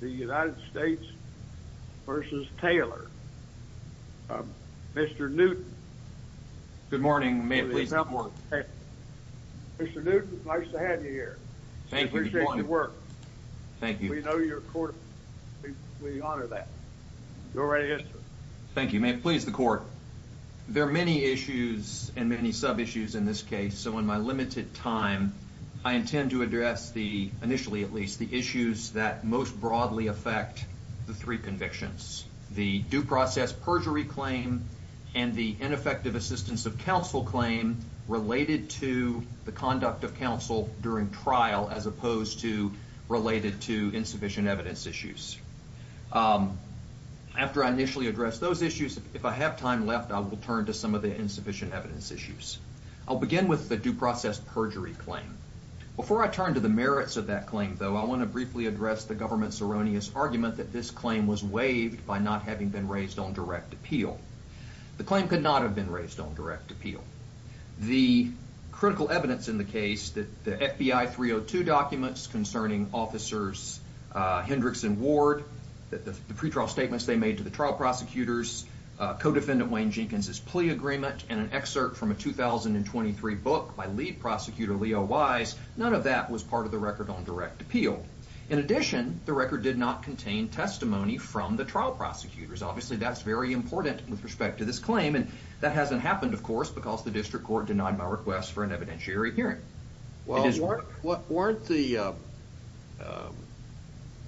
The United States v. Taylor. Mr. Newton. Good morning. Mr. Newton, nice to have you here. Thank you. We know your court. We honor that. Go right ahead, sir. Thank you. May it please the court. There are many issues and many sub-issues in this case, so in my limited time I intend to address the, initially at least, the issues that most broadly affect the three convictions, the due process perjury claim and the ineffective assistance of counsel claim related to the conduct of counsel during trial as opposed to related to insufficient evidence issues. After I initially address those issues, if I have time left, I will turn to some of the Before I turn to the merits of that claim, though, I want to briefly address the government's erroneous argument that this claim was waived by not having been raised on direct appeal. The claim could not have been raised on direct appeal. The critical evidence in the case that the FBI 302 documents concerning officers Hendricks and Ward, the pretrial statements they made to the trial prosecutors, co-defendant Wayne Jenkins's plea agreement, and an excerpt from a 2023 book by lead prosecutor Leo Wise, none of that was part of the record on direct appeal. In addition, the record did not contain testimony from the trial prosecutors. Obviously, that's very important with respect to this claim, and that hasn't happened, of course, because the district court denied my request for an evidentiary hearing. Well, weren't the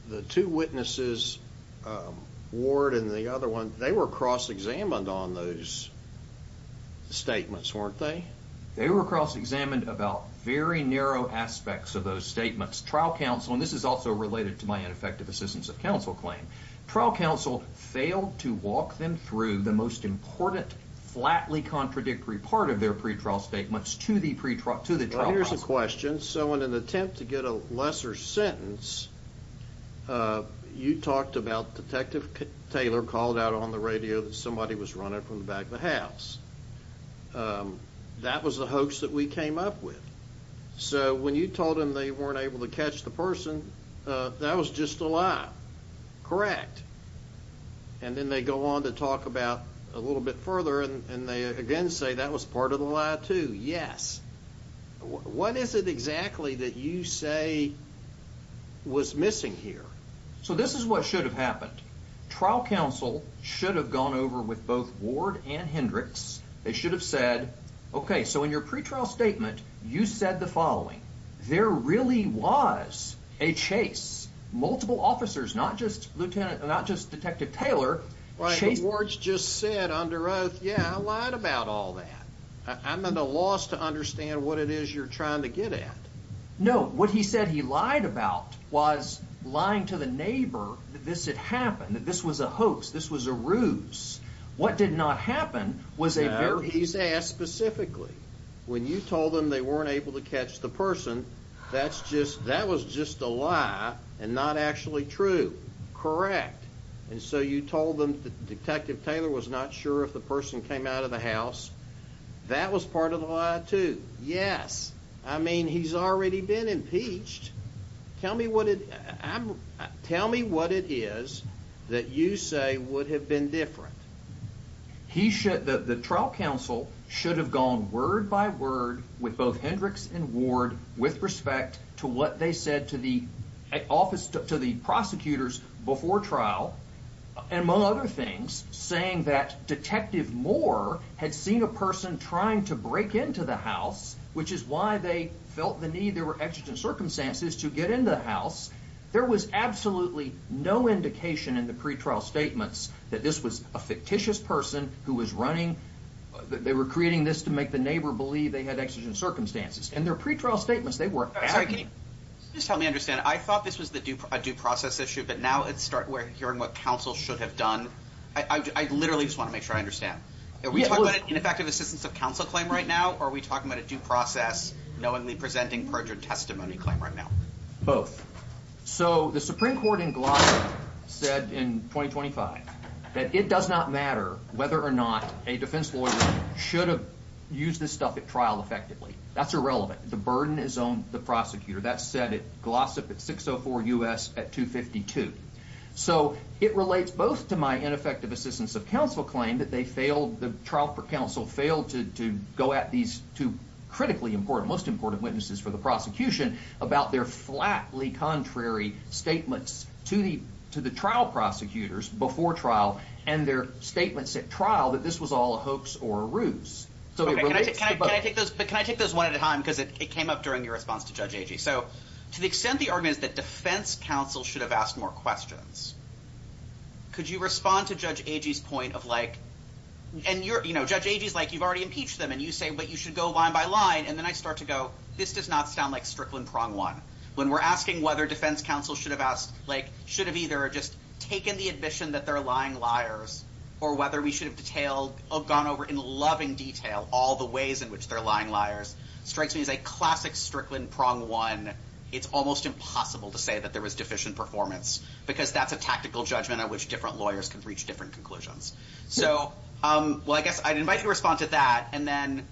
the two witnesses, Ward and the other one, they were cross-examined on those statements, weren't they? They were cross-examined about very narrow aspects of those statements. Trial counsel, and this is also related to my ineffective assistance of counsel claim, trial counsel failed to walk them through the most important, flatly contradictory part of pretrial statements to the trial counsel. Well, here's a question. So, in an attempt to get a lesser sentence, you talked about Detective Taylor called out on the radio that somebody was running from the back of the house. That was the hoax that we came up with. So, when you told him they weren't able to catch the person, that was just a lie, correct? And then they go on to a little bit further, and they again say that was part of the lie, too. Yes. What is it exactly that you say was missing here? So, this is what should have happened. Trial counsel should have gone over with both Ward and Hendricks. They should have said, okay, so in your pretrial statement, you said the following. There really was a chase. Multiple officers, not just Lieutenant, not just Detective Taylor. Right. Ward's just said under oath, yeah, I lied about all that. I'm at a loss to understand what it is you're trying to get at. No, what he said he lied about was lying to the neighbor that this had happened, that this was a hoax, this was a ruse. What did not happen was a very... No, he's asked specifically. When you told them they weren't able to catch the person, that was just a lie and not actually true. Correct. And so, you told them that Detective Taylor was not sure if the person came out of the house. That was part of the lie, too. Yes. I mean, he's already been impeached. Tell me what it is that you say would have been different. The trial counsel should have gone word by word with both Hendricks and Ward with respect to what they said to the office, to the prosecutors before trial, among other things, saying that Detective Moore had seen a person trying to break into the house, which is why they felt the need. There were exigent circumstances to get into the house. There was absolutely no indication in the pretrial statements that this was a fictitious person who was running. They were creating this to make the neighbor believe they had exigent circumstances. In their pretrial statements, they were... Sorry, can you just help me understand? I thought this was a due process issue, but now we're hearing what counsel should have done. I literally just want to make sure I understand. Are we talking about an ineffective assistance of counsel claim right now, or are we talking about a due process, knowingly presenting perjured testimony claim right now? Both. So, the Supreme Court in Glasgow said in 2025 that it does not matter whether or not a defense lawyer should have used this stuff at trial effectively. That's irrelevant. The burden is on the prosecutor. That's said at Glossip at 604 U.S. at 252. So, it relates both to my ineffective assistance of counsel claim that they failed, the trial counsel failed to go at these two critically important, most important witnesses for the prosecution about their flatly contrary statements to the trial prosecutors before trial and their statements at trial that this was all a hoax or a ruse. But can I take those one at a time because it came up during your response to Judge Agee. So, to the extent the argument is that defense counsel should have asked more questions, could you respond to Judge Agee's point of like... And Judge Agee's like, you've already impeached them, and you say, but you should go line by line. And then I start to go, this does not sound like Strickland prong one. When we're asking whether defense counsel should have asked, should have either just taken the admission that they're lying liars, or whether we should have gone over in loving detail all the ways in which they're lying liars, strikes me as a classic Strickland prong one. It's almost impossible to say that there was deficient performance because that's a tactical judgment at which different lawyers can reach different conclusions. So, well, I guess I'd invite you to respond to that. And then,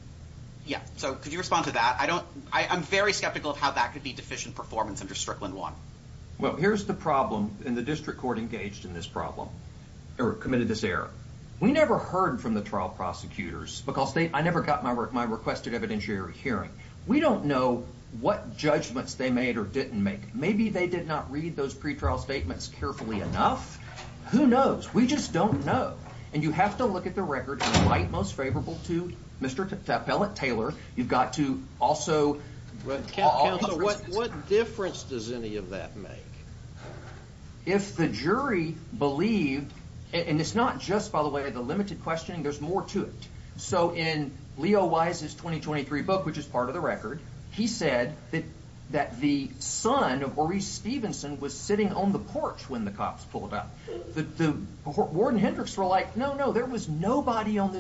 yeah. So, could you respond to that? I'm very skeptical of how that could be deficient performance under Strickland one. Well, here's the problem, and the district court engaged in this problem, or committed this error. We never heard from the trial prosecutors because I never got my requested evidentiary hearing. We don't know what judgments they made or didn't make. Maybe they did not read those pretrial statements carefully enough. Who knows? We just don't know. And you have to look at the record and write most favorable to Mr. Taylor. You've got to also... What difference does any of that make? If the jury believed, and it's not just, by the way, the limited questioning, there's more to it. So, in Leo Wise's 2023 book, which is part of the record, he said that the son of Maurice was nobody on this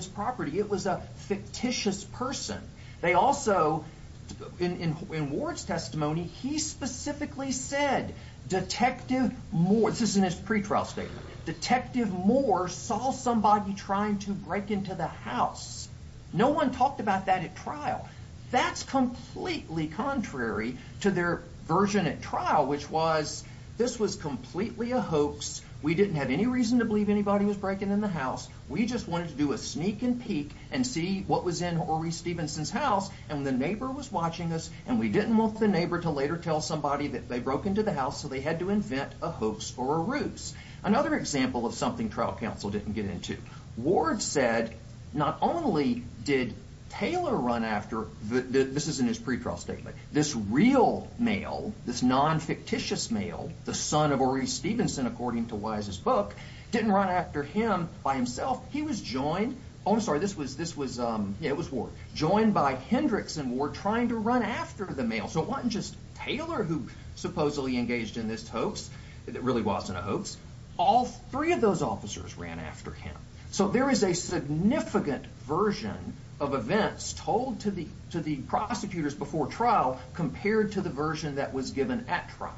property. It was a fictitious person. They also, in Ward's testimony, he specifically said, Detective Moore, this is in his pretrial statement, Detective Moore saw somebody trying to break into the house. No one talked about that at trial. That's completely contrary to their version at trial, which was, this was completely a hoax. We didn't have any reason to break into the house. We just wanted to do a sneak and peek and see what was in Maurice Stevenson's house, and the neighbor was watching us, and we didn't want the neighbor to later tell somebody that they broke into the house, so they had to invent a hoax or a ruse. Another example of something trial counsel didn't get into. Ward said, not only did Taylor run after, this is in his pretrial statement, this real male, this non-fictitious male, the son of Maurice Stevenson, according to Wise's book, didn't run after him by himself. He was joined, oh I'm sorry, this was, this was, it was Ward, joined by Hendrickson, Ward trying to run after the male. So it wasn't just Taylor who supposedly engaged in this hoax. It really wasn't a hoax. All three of those officers ran after him. So there is a significant version of events told to the, to the prosecutors before trial, compared to the version that was given at trial.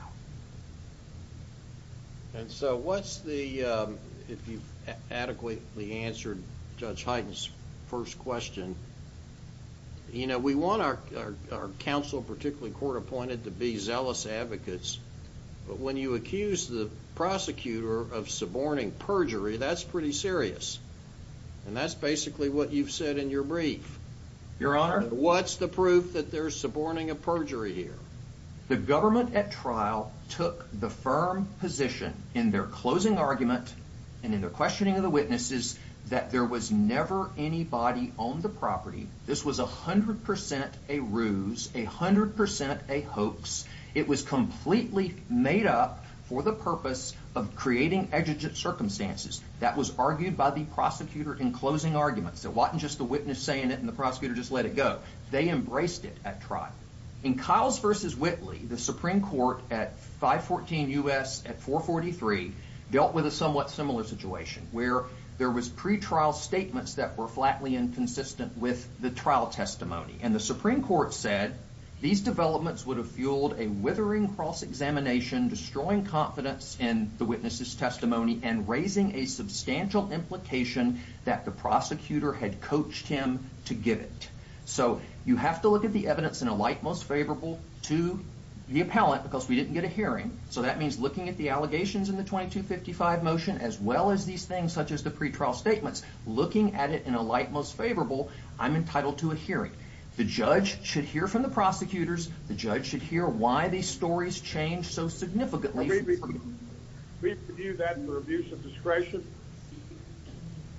And so what's the, if you've adequately answered Judge Hyten's first question, you know, we want our, our counsel, particularly court appointed, to be zealous advocates, but when you accuse the prosecutor of suborning perjury, that's pretty serious, and that's basically what you've said in your brief. Your honor? What's the proof that they're suborning a perjury here? The government at trial took the firm position in their closing argument, and in their questioning of the witnesses, that there was never anybody on the property. This was a hundred percent a ruse, a hundred percent a hoax. It was completely made up for the purpose of creating exigent circumstances. That was argued by the prosecutor in closing arguments. It wasn't just the witness saying it and the prosecutor just let it go. They embraced it at trial. In Kiles v. Whitley, the Supreme Court at 514 U.S. at 443, dealt with a somewhat similar situation, where there was pretrial statements that were flatly inconsistent with the trial testimony. And the Supreme Court said these developments would have fueled a withering cross-examination, destroying confidence in the witness's testimony, and raising a substantial implication that the prosecutor had coached him to give it. So you have to look at the evidence in a light most favorable to the appellant, because we didn't get a hearing. So that means looking at the allegations in the 2255 motion, as well as these things such as the pretrial statements, looking at it in a light most favorable, I'm entitled to a hearing. The judge should hear from the prosecutors. The judge should hear why these stories change so significantly. We view that for abuse of discretion?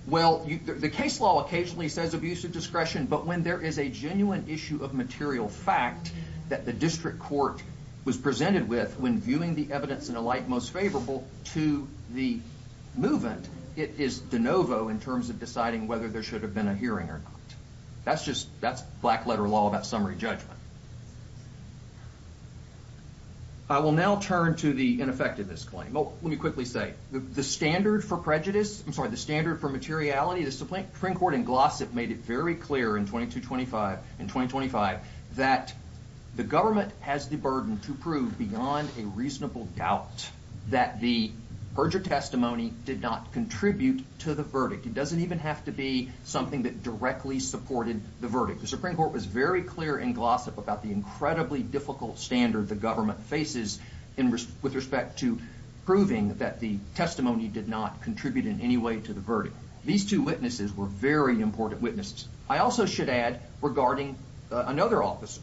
Well, the case law occasionally says abuse of discretion, but when there is a genuine issue of material fact that the district court was presented with, when viewing the evidence in a light most favorable to the movant, it is de novo in terms of deciding whether there should have been a hearing or not. That's just, that's black-letter law about summary judgment. I will now turn to the ineffectiveness claim. Oh, let me quickly say, the standard for prejudice, I'm sorry, the standard for materiality, the Supreme Court in Glossop made it very clear in 2225, in 2025, that the government has the burden to prove beyond a reasonable doubt that the perjured testimony did not contribute to the verdict. It doesn't even have to be something that directly supported the verdict. The Supreme Court was very clear in Glossop that the verdict incredibly difficult standard the government faces with respect to proving that the testimony did not contribute in any way to the verdict. These two witnesses were very important witnesses. I also should add regarding another officer,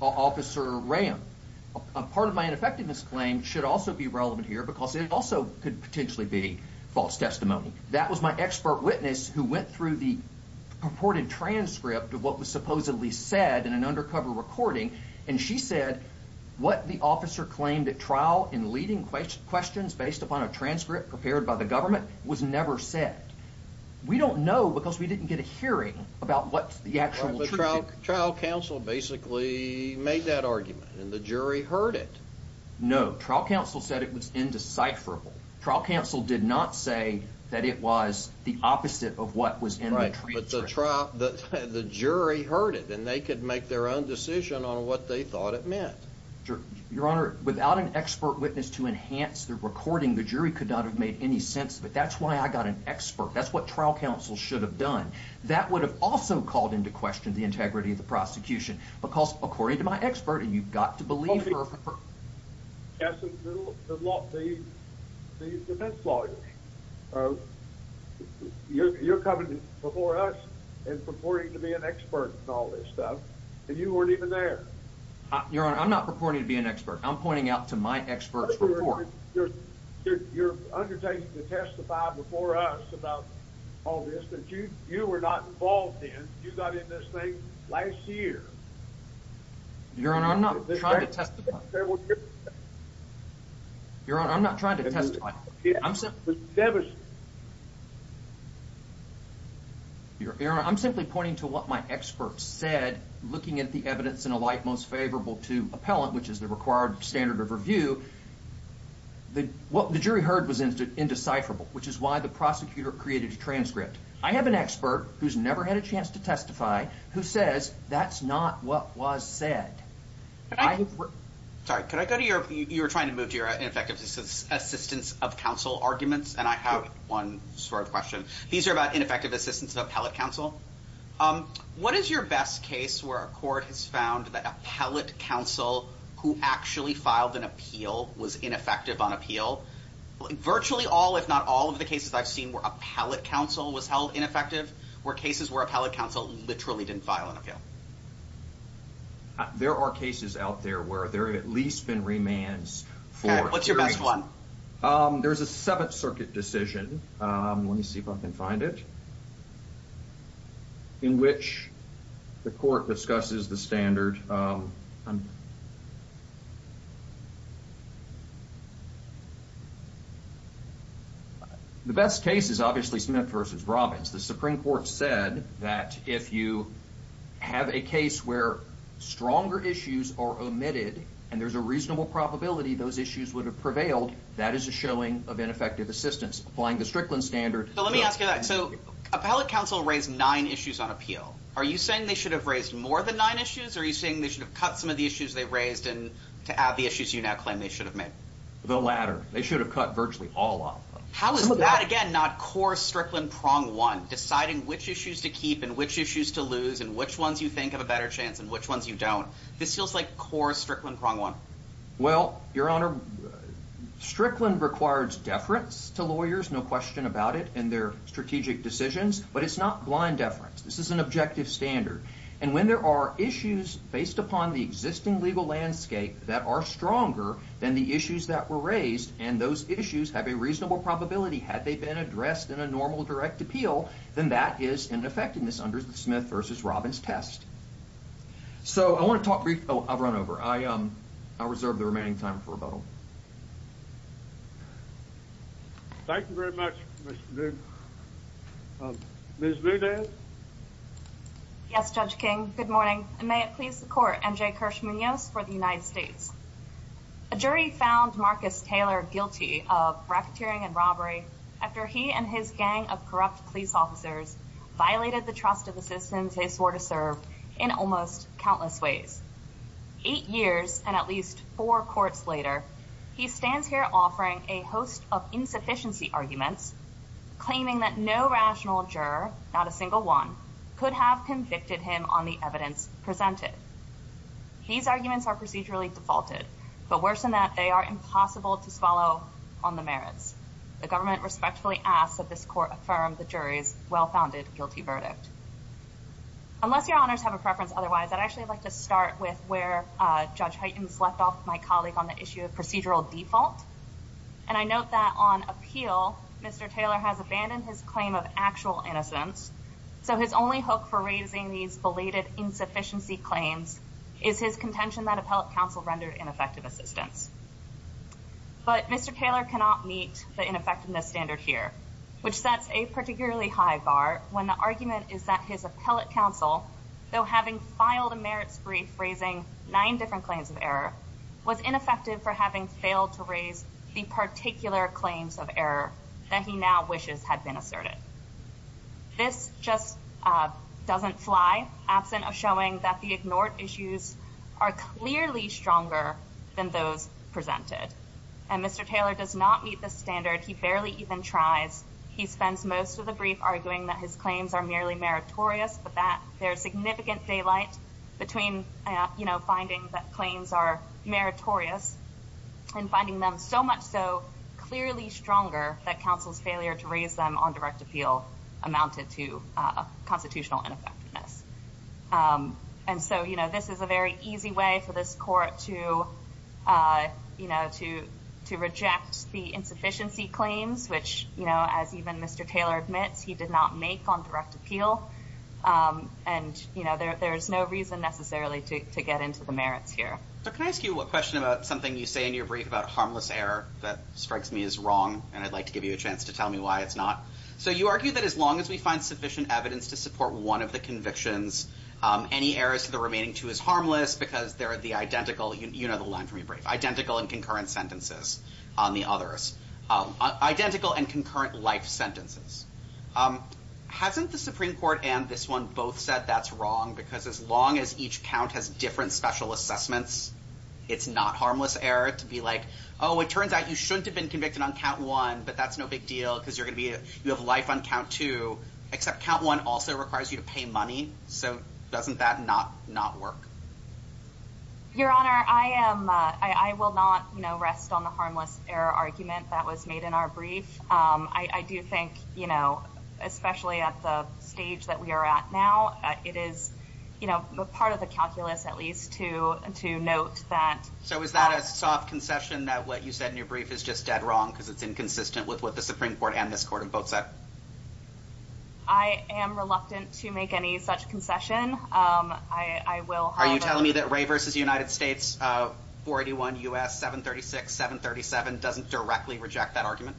Officer Ram, a part of my ineffectiveness claim should also be relevant here because it also could potentially be false testimony. That was my expert witness who went through the purported transcript of what was supposedly said in an undercover recording, and she said what the officer claimed at trial in leading questions based upon a transcript prepared by the government was never said. We don't know because we didn't get a hearing about what the actual truth is. Trial counsel basically made that argument, and the jury heard it. No, trial counsel said it was indecipherable. Trial counsel did not say that it was the opposite of what was in the transcript. But the jury heard it, and they could make their own decision on what they thought it meant. Your Honor, without an expert witness to enhance the recording, the jury could not have made any sense of it. That's why I got an expert. That's what trial counsel should have done. That would have also called into question the integrity of the prosecution because according to my expert, and you've got to believe her. Yes, the defense lawyer. You're coming before us and purporting to be an expert in all this stuff, and you weren't even there. Your Honor, I'm not purporting to be an expert. I'm pointing out to my expert's report. You're undertaking to testify before us about all this that you were not involved in. You got in this thing last year. Your Honor, I'm not trying to testify. Your Honor, I'm not trying to testify. I'm simply pointing to what my expert said, looking at the evidence in a light most favorable to appellant, which is the required standard of review. What the jury heard was indecipherable, which is why the prosecutor created a transcript. I have an expert who's never had a chance to testify who says that's not what was said. Sorry, could I go to your... You were trying to move to your ineffective assistance of counsel arguments, and I have one sort of question. These are about ineffective assistance of appellate counsel. What is your best case where a court has found that appellate counsel who actually filed an appeal was ineffective on appeal? Virtually all, if not all, of the cases I've seen where appellate counsel was held ineffective, were cases where appellate counsel literally didn't file an appeal. There are cases out there where there have at least been remands for- Okay, what's your best one? There's a Seventh Circuit decision, let me see if I can find it, in which the court discusses the standard. The best case is obviously Smith versus Robbins. The Supreme Court said that if you have a case where stronger issues are omitted, and there's a reasonable probability those issues would have prevailed, that is a showing of ineffective assistance. Applying the Strickland standard- Let me ask you that. Appellate counsel raised nine issues on appeal. Are you saying they raised more than nine issues, or are you saying they should have cut some of the issues they've raised to add the issues you now claim they should have made? The latter. They should have cut virtually all of them. How is that, again, not core Strickland prong one? Deciding which issues to keep, and which issues to lose, and which ones you think have a better chance, and which ones you don't. This feels like core Strickland prong one. Well, your honor, Strickland requires deference to lawyers, no question about it, in their strategic decisions, but it's not blind deference. This is an objective standard, and when there are issues based upon the existing legal landscape that are stronger than the issues that were raised, and those issues have a reasonable probability, had they been addressed in a normal direct appeal, then that is an effectiveness under the Smith versus Robbins test. So, I want to talk briefly- Oh, I've run over. I'll reserve the remaining time for rebuttal. Thank you very much, Mr. Boone. Ms. Boudin? Yes, Judge King, good morning, and may it please the court, N.J. Kirsch Munoz for the United States. A jury found Marcus Taylor guilty of racketeering and robbery after he and his gang of corrupt police officers violated the trust of the citizens they swore to serve in almost countless ways. Eight years, and at least four courts later, he stands here offering a host of insufficiency arguments, claiming that no rational juror, not a single one, could have convicted him on the evidence presented. These arguments are procedurally defaulted, but worse than that, they are impossible to swallow on the merits. The government respectfully asks that this court affirm the jury's well-founded guilty verdict. Unless your honors have a preference otherwise, I'd actually like to start with where Judge Heitens left off my colleague on the issue of procedural default, and I note that on appeal, Mr. Taylor has abandoned his claim of actual innocence, so his only hope for raising these belated insufficiency claims is his contention that appellate counsel rendered ineffective assistance. But Mr. Taylor cannot meet the ineffectiveness standard here, which sets a particularly high bar when the argument is that his appellate counsel, though having filed a merits brief raising nine different claims of error, was ineffective for having failed to raise the particular claims of error that he now wishes had been asserted. This just doesn't fly, absent of showing that the ignored issues are clearly stronger than those presented, and Mr. Taylor does not meet this standard. He barely even tries. He spends most of arguing that his claims are merely meritorious, but there's significant daylight between finding that claims are meritorious and finding them so much so clearly stronger that counsel's failure to raise them on direct appeal amounted to constitutional ineffectiveness. And so this is a very easy way for this court to reject the insufficiency claims, which as even Mr. Taylor admits, he did not make on direct appeal. And you know, there's no reason necessarily to get into the merits here. So can I ask you a question about something you say in your brief about harmless error that strikes me as wrong, and I'd like to give you a chance to tell me why it's not. So you argue that as long as we find sufficient evidence to support one of the convictions, any errors to the remaining two is harmless because they're the identical, you know the line from your brief, identical and concurrent sentences on the others. Identical and concurrent life sentences. Hasn't the Supreme Court and this one both said that's wrong because as long as each count has different special assessments, it's not harmless error to be like, oh, it turns out you shouldn't have been convicted on count one, but that's no big deal because you're going to be, you have life on count two, except count one also requires you to pay money. So doesn't that not not work? Your Honor, I am, I will not, you know, rest on the harmless error argument that was made in our brief. I do think, you know, especially at the stage that we are at now, it is, you know, part of the calculus at least to to note that. So is that a soft concession that what you said in your brief is just dead wrong because it's inconsistent with what the Supreme Court and this court have both said? I am reluctant to make any such concession. I will. Are you telling me that Ray v. United States, 481 U.S. 736-737 doesn't directly reject that argument?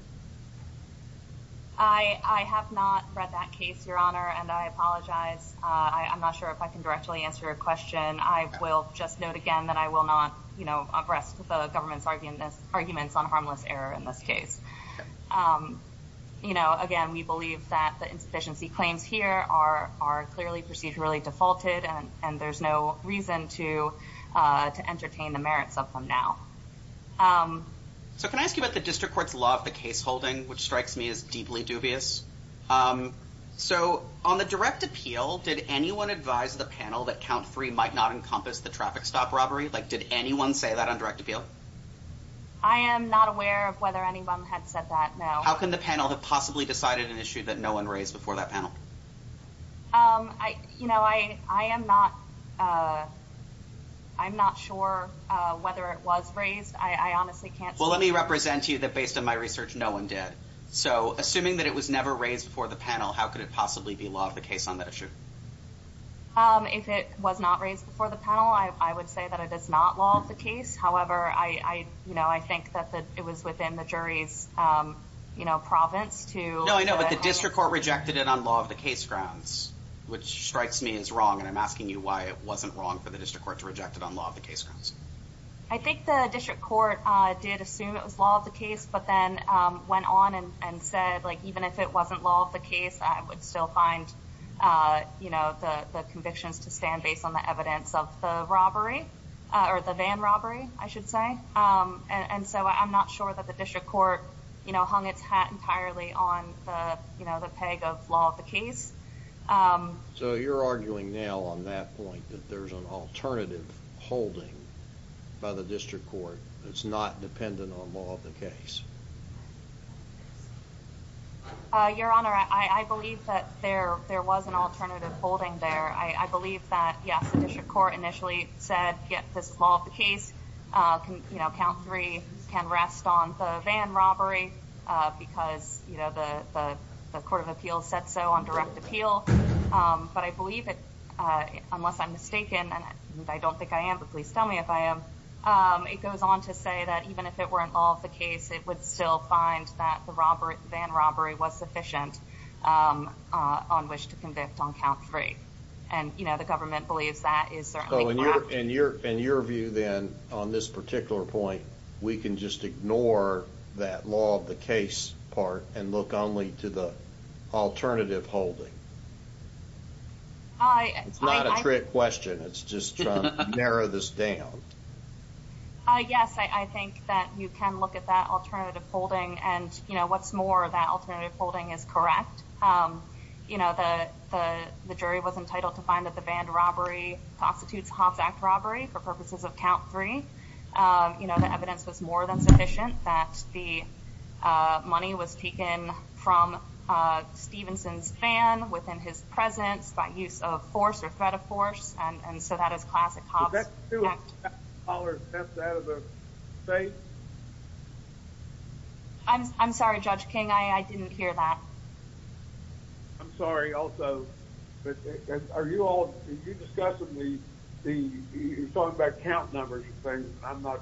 I have not read that case, Your Honor, and I apologize. I'm not sure if I can directly answer your question. I will just note again that I will not, you know, rest the government's arguments on harmless error in this case. You know, again, we believe that the insufficiency claims here are clearly procedurally defaulted and there's no reason to entertain the merits of them now. So can I ask you about the district court's law of the case holding, which strikes me as deeply dubious? So on the direct appeal, did anyone advise the panel that count three might not encompass the traffic stop robbery? Like, did anyone say that on direct appeal? I am not aware of whether anyone had said that, no. How can the panel have possibly decided an issue that no one raised before that panel? I, you know, I am not, I'm not sure whether it was raised. I honestly can't say. Well, let me represent to you that based on my research, no one did. So assuming that it was never raised before the panel, how could it possibly be law of the case on that issue? If it was not raised before the panel, I would say that it is not law of the case. However, I, you know, I think that it was within the jury's, you know, province to- No, I know, but the district court rejected it on law of the case grounds, which strikes me as wrong. And I'm asking you why it wasn't wrong for the district court to reject it on law of the case grounds. I think the district court did assume it was law of the case, but then went on and said, like, even if it wasn't law of the case, I would still find, you know, the convictions to stand based on the evidence of the robbery or the van robbery, I should say. And so I'm not sure that district court, you know, hung its hat entirely on the, you know, the peg of law of the case. So you're arguing now on that point that there's an alternative holding by the district court that's not dependent on law of the case? Your Honor, I believe that there was an alternative holding there. I believe that, yes, the district court initially said, yes, this is law of the case. You know, count three can rest on the van robbery because, you know, the Court of Appeals said so on direct appeal. But I believe that, unless I'm mistaken, and I don't think I am, but please tell me if I am, it goes on to say that even if it weren't law of the case, it would still find that the van robbery was sufficient on which to convict on count three. And, you know, the government believes that is So in your view then, on this particular point, we can just ignore that law of the case part and look only to the alternative holding? It's not a trick question. It's just trying to narrow this down. Yes, I think that you can look at that alternative holding and, you know, what's more, that alternative holding is correct. You know, the jury was entitled to find that the van robbery prostitutes Hobbs Act robbery for purposes of count three. You know, the evidence was more than sufficient that the money was taken from Stevenson's van within his presence by use of force or threat of force. And so that is classic Hobbs Act. But that's two dollars theft out of the state? I'm sorry, Judge King, I didn't hear that. I'm sorry also, but are you all, did you discuss with me the, you're talking about count numbers and things. I'm not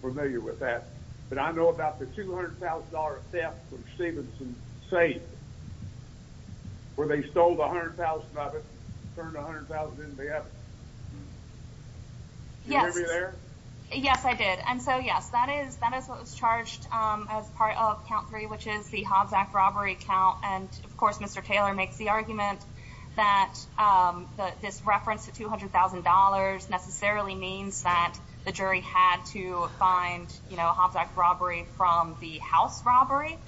familiar with that. But I know about the $200,000 theft from Stevenson's safe where they stole $100,000 of it and turned $100,000 into the evidence. Yes. Yes, I did. And so, yes, that is what was charged as part of count three, which is the Hobbs Act robbery count. And, of course, Mr. Taylor makes the argument that this reference to $200,000 necessarily means that the jury had to find, you know, a Hobbs Act robbery from the house robbery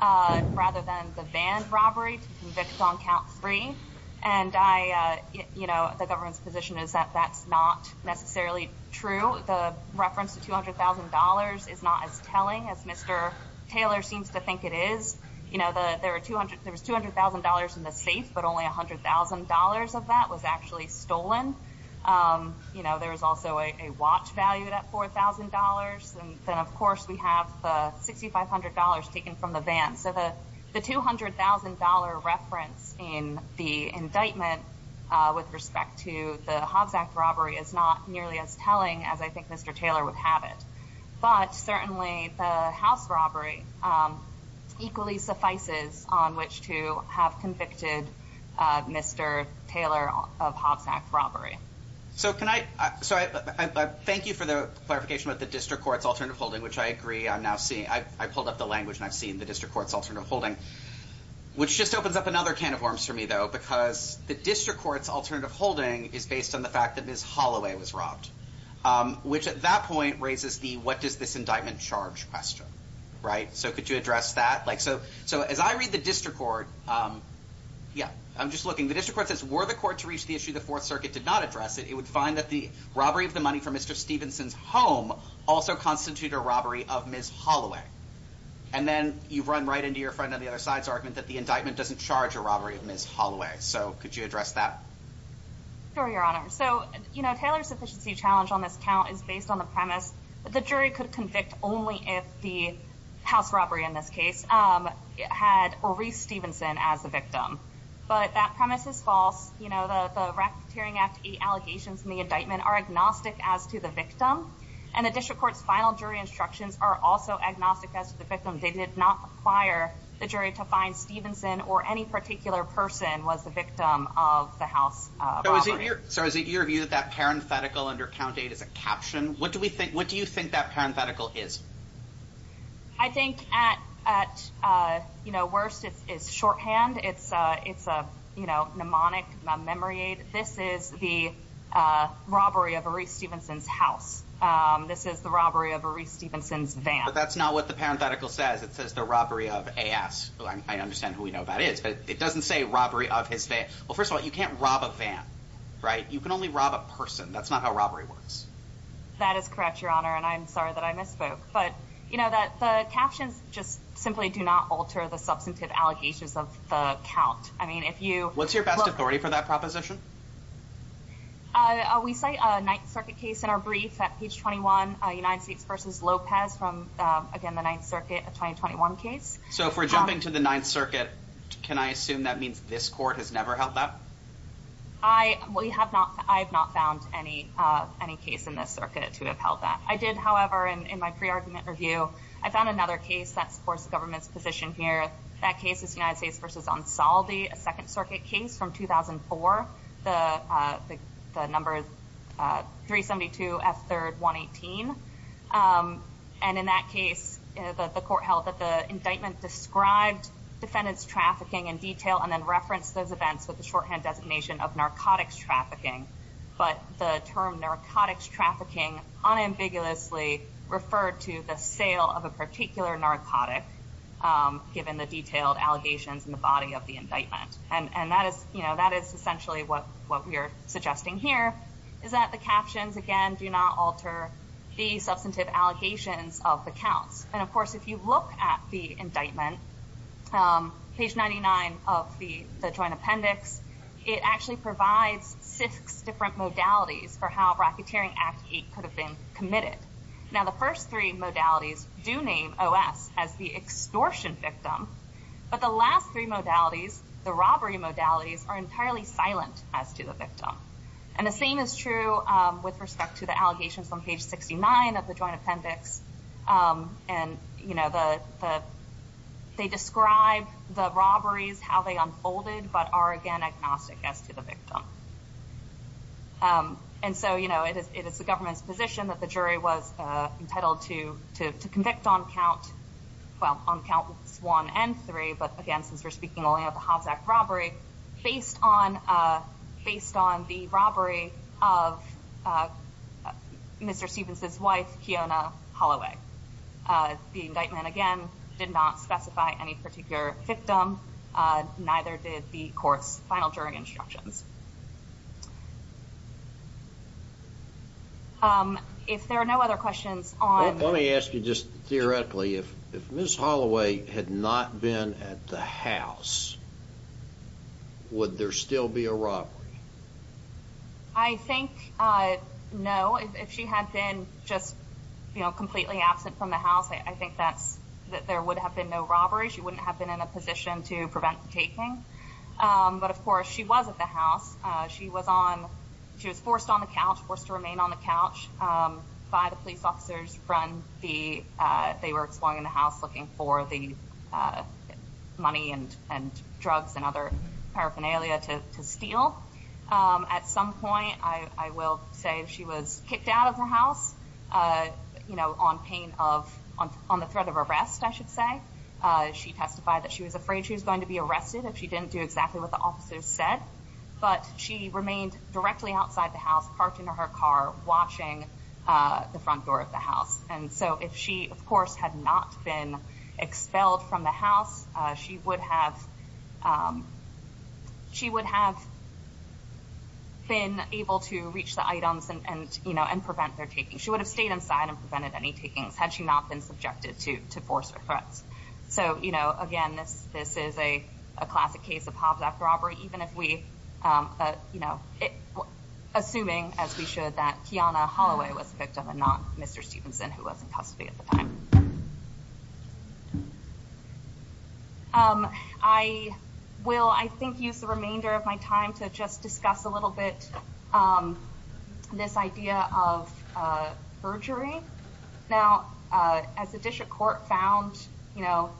rather than the van robbery to convict on count three. And I, you know, the government's position is that that's not necessarily true. The reference to $200,000 is not as telling as Mr. Taylor seems to think it is. You know, there was $200,000 in the safe, but only $100,000 of that was actually stolen. You know, there was also a watch valued at $4,000. And then, of course, we have the $6,500 taken from the van. So the $200,000 reference in the indictment with respect to the Hobbs Act robbery is not nearly as telling as I think Mr. Taylor would have it. But certainly the house robbery equally suffices on which to have convicted Mr. Taylor of Hobbs Act robbery. So can I, so I thank you for the clarification about the district court's alternative holding, which I agree I'm now seeing. I pulled up the language and I've seen the district court's alternative holding, which just opens up another can of worms for me, though, because the district court's alternative holding is based on the fact that Ms. Holloway was robbed, which at that point raises the what does this indictment charge question, right? So could you address that? Like, so as I read the district court, yeah, I'm just looking. The district court says, were the court to reach the issue the Fourth Circuit did not address it, it would find that the robbery of the money from Mr. Stevenson's home also constitute a robbery of Ms. Holloway. And then you run right into your friend on the other side's argument that the indictment doesn't charge a robbery of Ms. Holloway. So could you address that? Sure, Your Honor. So, you know, Taylor's sufficiency challenge on this count is based on the premise that the jury could convict only if the house robbery, in this case, had Reese Stevenson as the victim. But that premise is false. You know, the Racketeering Act allegations in the indictment are agnostic as to the victim. And the district court's final jury instructions are also agnostic as to the victim. They did not require the jury to find Stevenson or any particular person was the victim of the house. So is it your view that that parenthetical under count eight is a caption? What do you think that parenthetical is? I think at, you know, worst, it's shorthand. It's, you know, mnemonic memory aid. This is the robbery of a Reese Stevenson's house. This is the robbery of a Reese Stevenson's van. But that's not what the parenthetical says. It says the robbery of AS. I understand who we know that is, but it doesn't say robbery of his van. Well, first of all, you can't rob a van, right? You can only rob a person. That's not how robbery works. That is correct, Your Honor. And I'm sorry that I misspoke. But you know that the captions just simply do not alter the substantive allegations of the count. I mean, if you what's your best authority for that proposition? Uh, we say a Ninth Circuit case in our brief at page 21 United States versus Lopez from again the Ninth Circuit 2021 case. So if we're jumping to the I have not found any case in this circuit to have held that. I did, however, in my pre-argument review, I found another case that supports the government's position here. That case is United States versus Ansaldi, a Second Circuit case from 2004. The number is 372 F3rd 118. And in that case, the court held that the indictment described defendants trafficking in detail and then referenced those events with the shorthand designation of narcotics trafficking. But the term narcotics trafficking unambiguously referred to the sale of a particular narcotic, given the detailed allegations in the body of the indictment. And that is, you know, that is essentially what what we're suggesting here is that the captions again do not alter the substantive allegations of the counts. And of course, if you look at the indictment, page 99 of the Joint Appendix, it actually provides six different modalities for how Rocketeering Act 8 could have been committed. Now, the first three modalities do name OS as the extortion victim. But the last three modalities, the robbery modalities, are entirely silent as to the victim. And the same is true with respect to the allegations on page 69 of the Joint Appendix. And, you know, they describe the robberies, how they unfolded, but are again agnostic as to the victim. And so, you know, it is the government's position that the jury was entitled to to convict on count, well, on counts one and three. But again, since we're speaking only of the Hobbs robbery, based on based on the robbery of Mr. Stevens's wife, Keona Holloway, the indictment, again, did not specify any particular victim. Neither did the court's final jury instructions. If there are no other questions on let me ask you just theoretically, if, if Ms. Holloway had not been at the house, would there still be a robbery? I think no, if she had been just, you know, completely absent from the house, I think that's that there would have been no robbery. She wouldn't have been in a position to prevent the taking. But of course, she was at the house. She was on, she was forced on the couch, forced to remain on the couch by the police officers from the, they were exploring the house looking for the money and drugs and other paraphernalia to steal. At some point, I will say she was kicked out of the house, you know, on pain of, on the threat of arrest, I should say. She testified that she was afraid she was going to be arrested if she didn't do exactly what the officers said. But she remained directly outside the house, parked in her car, watching the front door of the house. And so if she, of course, had not been expelled from the house, she would have, she would have been able to reach the items and, you know, and prevent their taking. She would have stayed inside and prevented any takings had she not been subjected to force threats. So, you know, again, this, this is a classic case of Hobbs Act robbery, even if we, you know, assuming as we should, that Kiana Holloway was the victim and not Mr. Stevenson, who was in custody at the time. I will, I think, use the remainder of my time to just discuss a little bit this idea of perjury. Now, as the district court found, you know,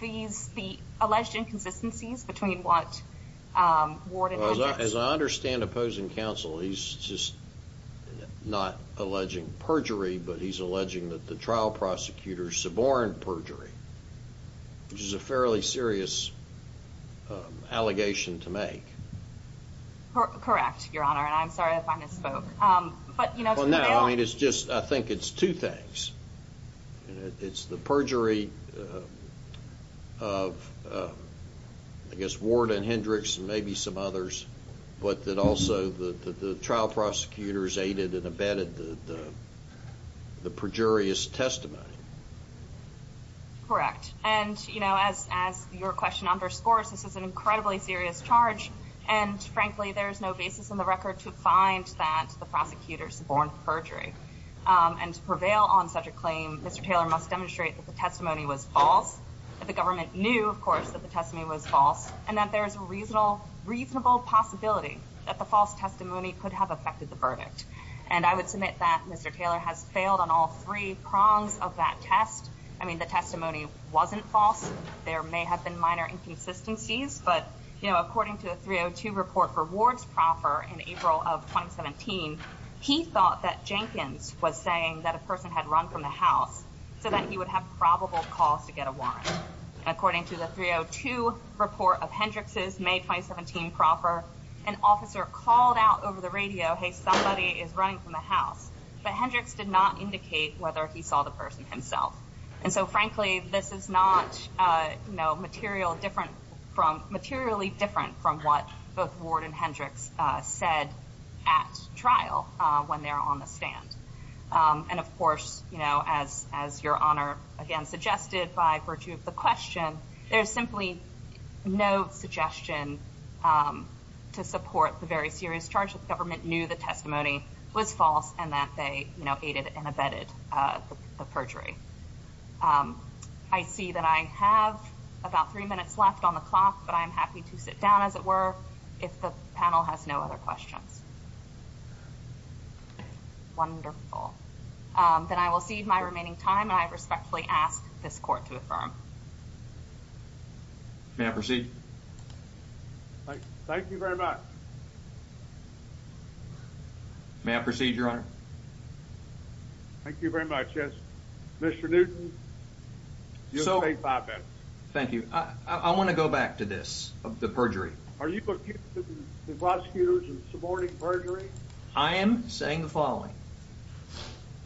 these, the alleged inconsistencies between what Warden... As I understand opposing counsel, he's just not alleging perjury, but he's alleging that the trial prosecutors suborned perjury, which is a fairly serious allegation to make. Correct, Your Honor, and I'm sorry if I misspoke. But, you know... Well, no, I mean, it's just, I think it's two things. It's the perjury of, I guess, Warden Hendricks and maybe some others, but that also the trial prosecutors aided and abetted the perjurious testimony. Correct, and, you know, as your question underscores, this is an incredibly serious charge, and frankly, there's no basis in the record to find that the prosecutors suborned perjury. And to prevail on such a claim, Mr. Taylor must demonstrate that the testimony was false, that the government knew, of course, that the testimony was false, and that there is a reasonable possibility that the false testimony could have affected the verdict. And I would submit that Mr. Taylor has failed on all three prongs of that test. I mean, the testimony wasn't false. There may have been minor inconsistencies, but, you know, according to the 302 report for Ward's proffer in April of 2017, he thought that Jenkins was saying that a person had run from the house so that he would have probable cause to get a warrant. According to the 302 report of Hendricks's May 2017 proffer, an officer called out over the radio, hey, somebody is running from the house, but Hendricks did not indicate whether he saw the person himself. And so, frankly, this is not, you know, material different from, materially different from what both Ward and Hendricks said at trial when they're on the stand. And, of course, you know, as your Honor, again, suggested by virtue of the question, there's simply no suggestion to support the very serious charge that the government knew the testimony was false and that they, you know, aided and abetted the perjury. I see that I have about three minutes left on the clock, but I'm happy to sit down, as it were, if the panel has no other questions. Wonderful. Then I will cede my remaining time, and I respectfully ask this Court to affirm. May I proceed? Thank you very much. May I proceed, Your Honor? Thank you very much, yes. Mr. Newton, you have five minutes. Thank you. I want to go back to this, the perjury. Are you looking at the prosecutors and supporting perjury? I am saying the following.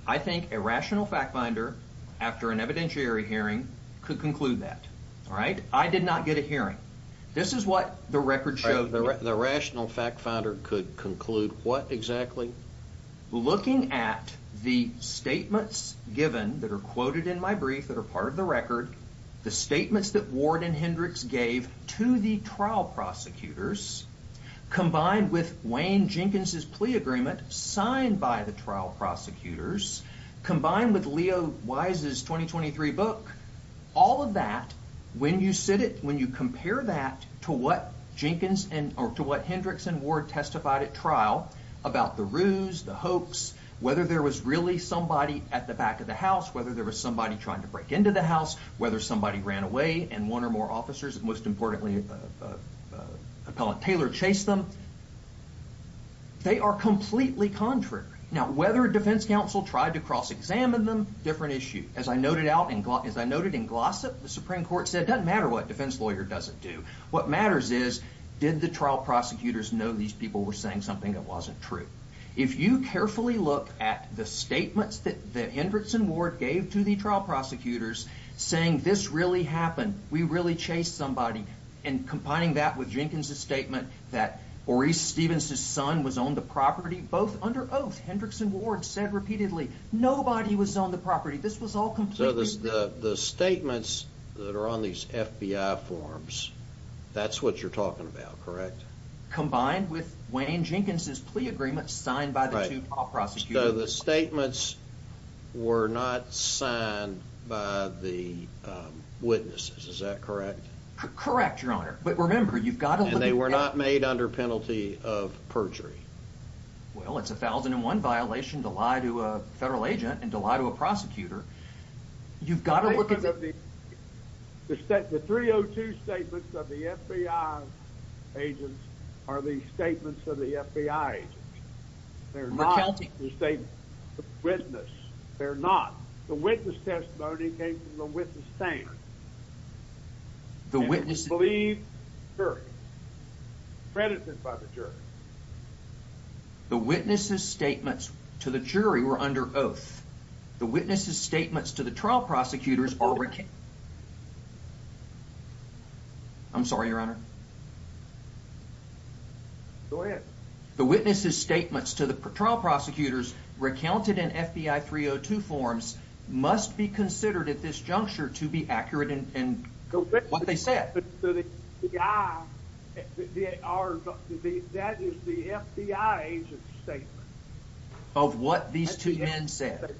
I think a rational fact-finder, after an evidentiary hearing, could conclude that, all right? I did not get a hearing. This is what the record showed. The rational fact-finder could conclude what, exactly? Looking at the statements given that are quoted in my brief that are part of the record, the statements that Ward and Hendricks gave to the trial prosecutors, combined with Wayne Leo Wise's 2023 book, all of that, when you sit it, when you compare that to what Jenkins and, or to what Hendricks and Ward testified at trial about the ruse, the hoax, whether there was really somebody at the back of the house, whether there was somebody trying to break into the house, whether somebody ran away, and one or more officers, most importantly appellant Taylor, chased them, they are completely contrary. Now, whether Defense Counsel tried to cross-examine them, different issue. As I noted out, as I noted in Glossop, the Supreme Court said, it does not matter what a defense lawyer does not do. What matters is, did the trial prosecutors know these people were saying something that was not true? If you carefully look at the statements that Hendricks and Ward gave to the trial prosecutors, saying, this really happened, we really chased somebody, and combining that with Jenkins' statement that Maurice Stevens' son was on the property, both under oath, Hendricks and Ward said repeatedly, nobody was on the property, this was all completely. So the statements that are on these FBI forms, that's what you're talking about, correct? Combined with Wayne Jenkins' plea agreement signed by the two top prosecutors. So the statements were not signed by the witnesses, is that correct? Correct, your honor, but remember you've got to. And they were not made under perjury. Well, it's a 1001 violation to lie to a federal agent and to lie to a prosecutor. You've got to look at the. The 302 statements of the FBI agents are the statements of the FBI agents. They're not the statements of the witness. They're not. The witness testimony came from the jury. The witness's statements to the jury were under oath. The witness's statements to the trial prosecutors are. I'm sorry, your honor. Go ahead. The witness's statements to the trial prosecutors recounted in FBI 302 forms must be considered at this juncture to be accurate in what they said. That is the FBI agent's statement. Of what these two men said.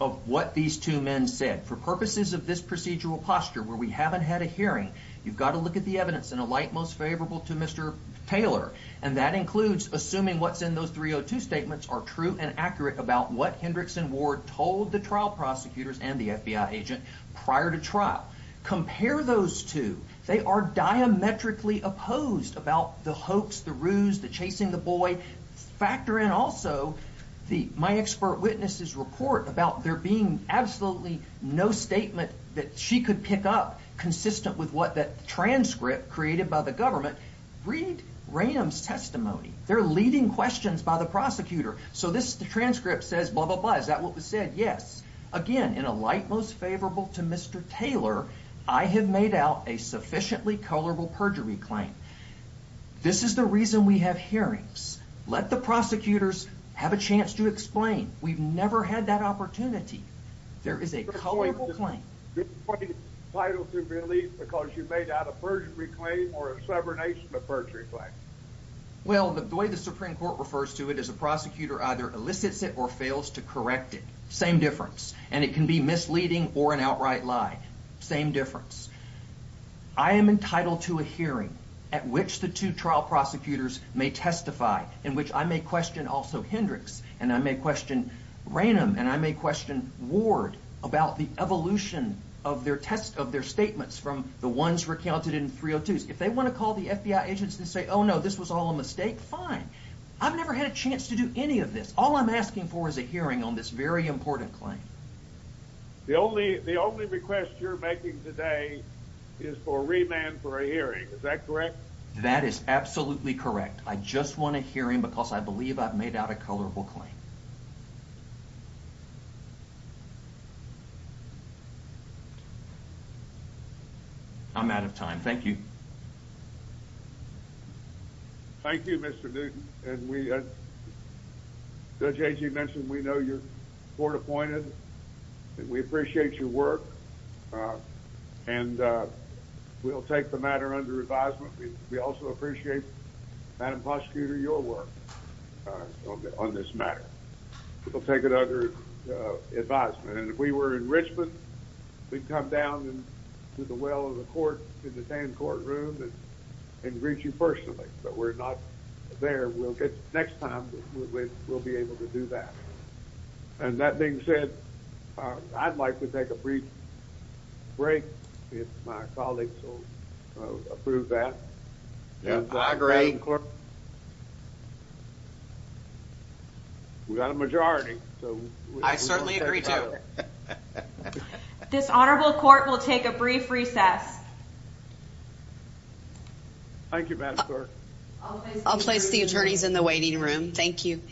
Of what these two men said. For purposes of this procedural posture where we haven't had a hearing, you've got to look at the evidence in a light most favorable to Mr. Taylor. And that includes assuming what's in those 302 statements are true and accurate about what Hendrickson Ward told the trial prosecutors and the FBI agent prior to trial. Compare those two. They are diametrically opposed about the hoax, the ruse, the chasing the boy. Factor in also the my expert witness's report about there being absolutely no statement that she could pick up consistent with what that transcript created by the government. Read Ranham's testimony. They're yes. Again, in a light most favorable to Mr. Taylor, I have made out a sufficiently colorable perjury claim. This is the reason we have hearings. Let the prosecutors have a chance to explain. We've never had that opportunity. There is a colorable claim. Title to release because you made out a perjury claim or a severed nation of perjury claim. Well, the way the Supreme Court refers to it as a prosecutor either elicits it or fails to correct it. Same difference. And it can be misleading or an outright lie. Same difference. I am entitled to a hearing at which the two trial prosecutors may testify in which I may question also Hendricks and I may question Ranham and I may question Ward about the evolution of their test of their statements from the ones recounted in 302s. If they want to call the FBI agents and say, oh no, this was all a mistake. Fine. I've never had a chance to do any of this. All I'm asking for is a hearing on this very important claim. The only the only request you're making today is for remand for a hearing. Is that correct? That is absolutely correct. I just want to hear him because I believe I've made out a colorful claim. I'm out of time. Thank you. Thank you, Mr. Newton. And we, Judge Agee mentioned, we know you're court-appointed and we appreciate your work. And we'll take the matter under advisement. We also appreciate Madam Prosecutor, your work on this matter. We'll take it under advisement. And if we were in and greet you personally, but we're not there, we'll get next time we'll be able to do that. And that being said, I'd like to take a brief break if my colleagues will approve that. I agree. We got a majority. I certainly agree too. Okay. This honorable court will take a brief recess. Thank you, Madam Clerk. I'll place the attorneys in the waiting room. Thank you.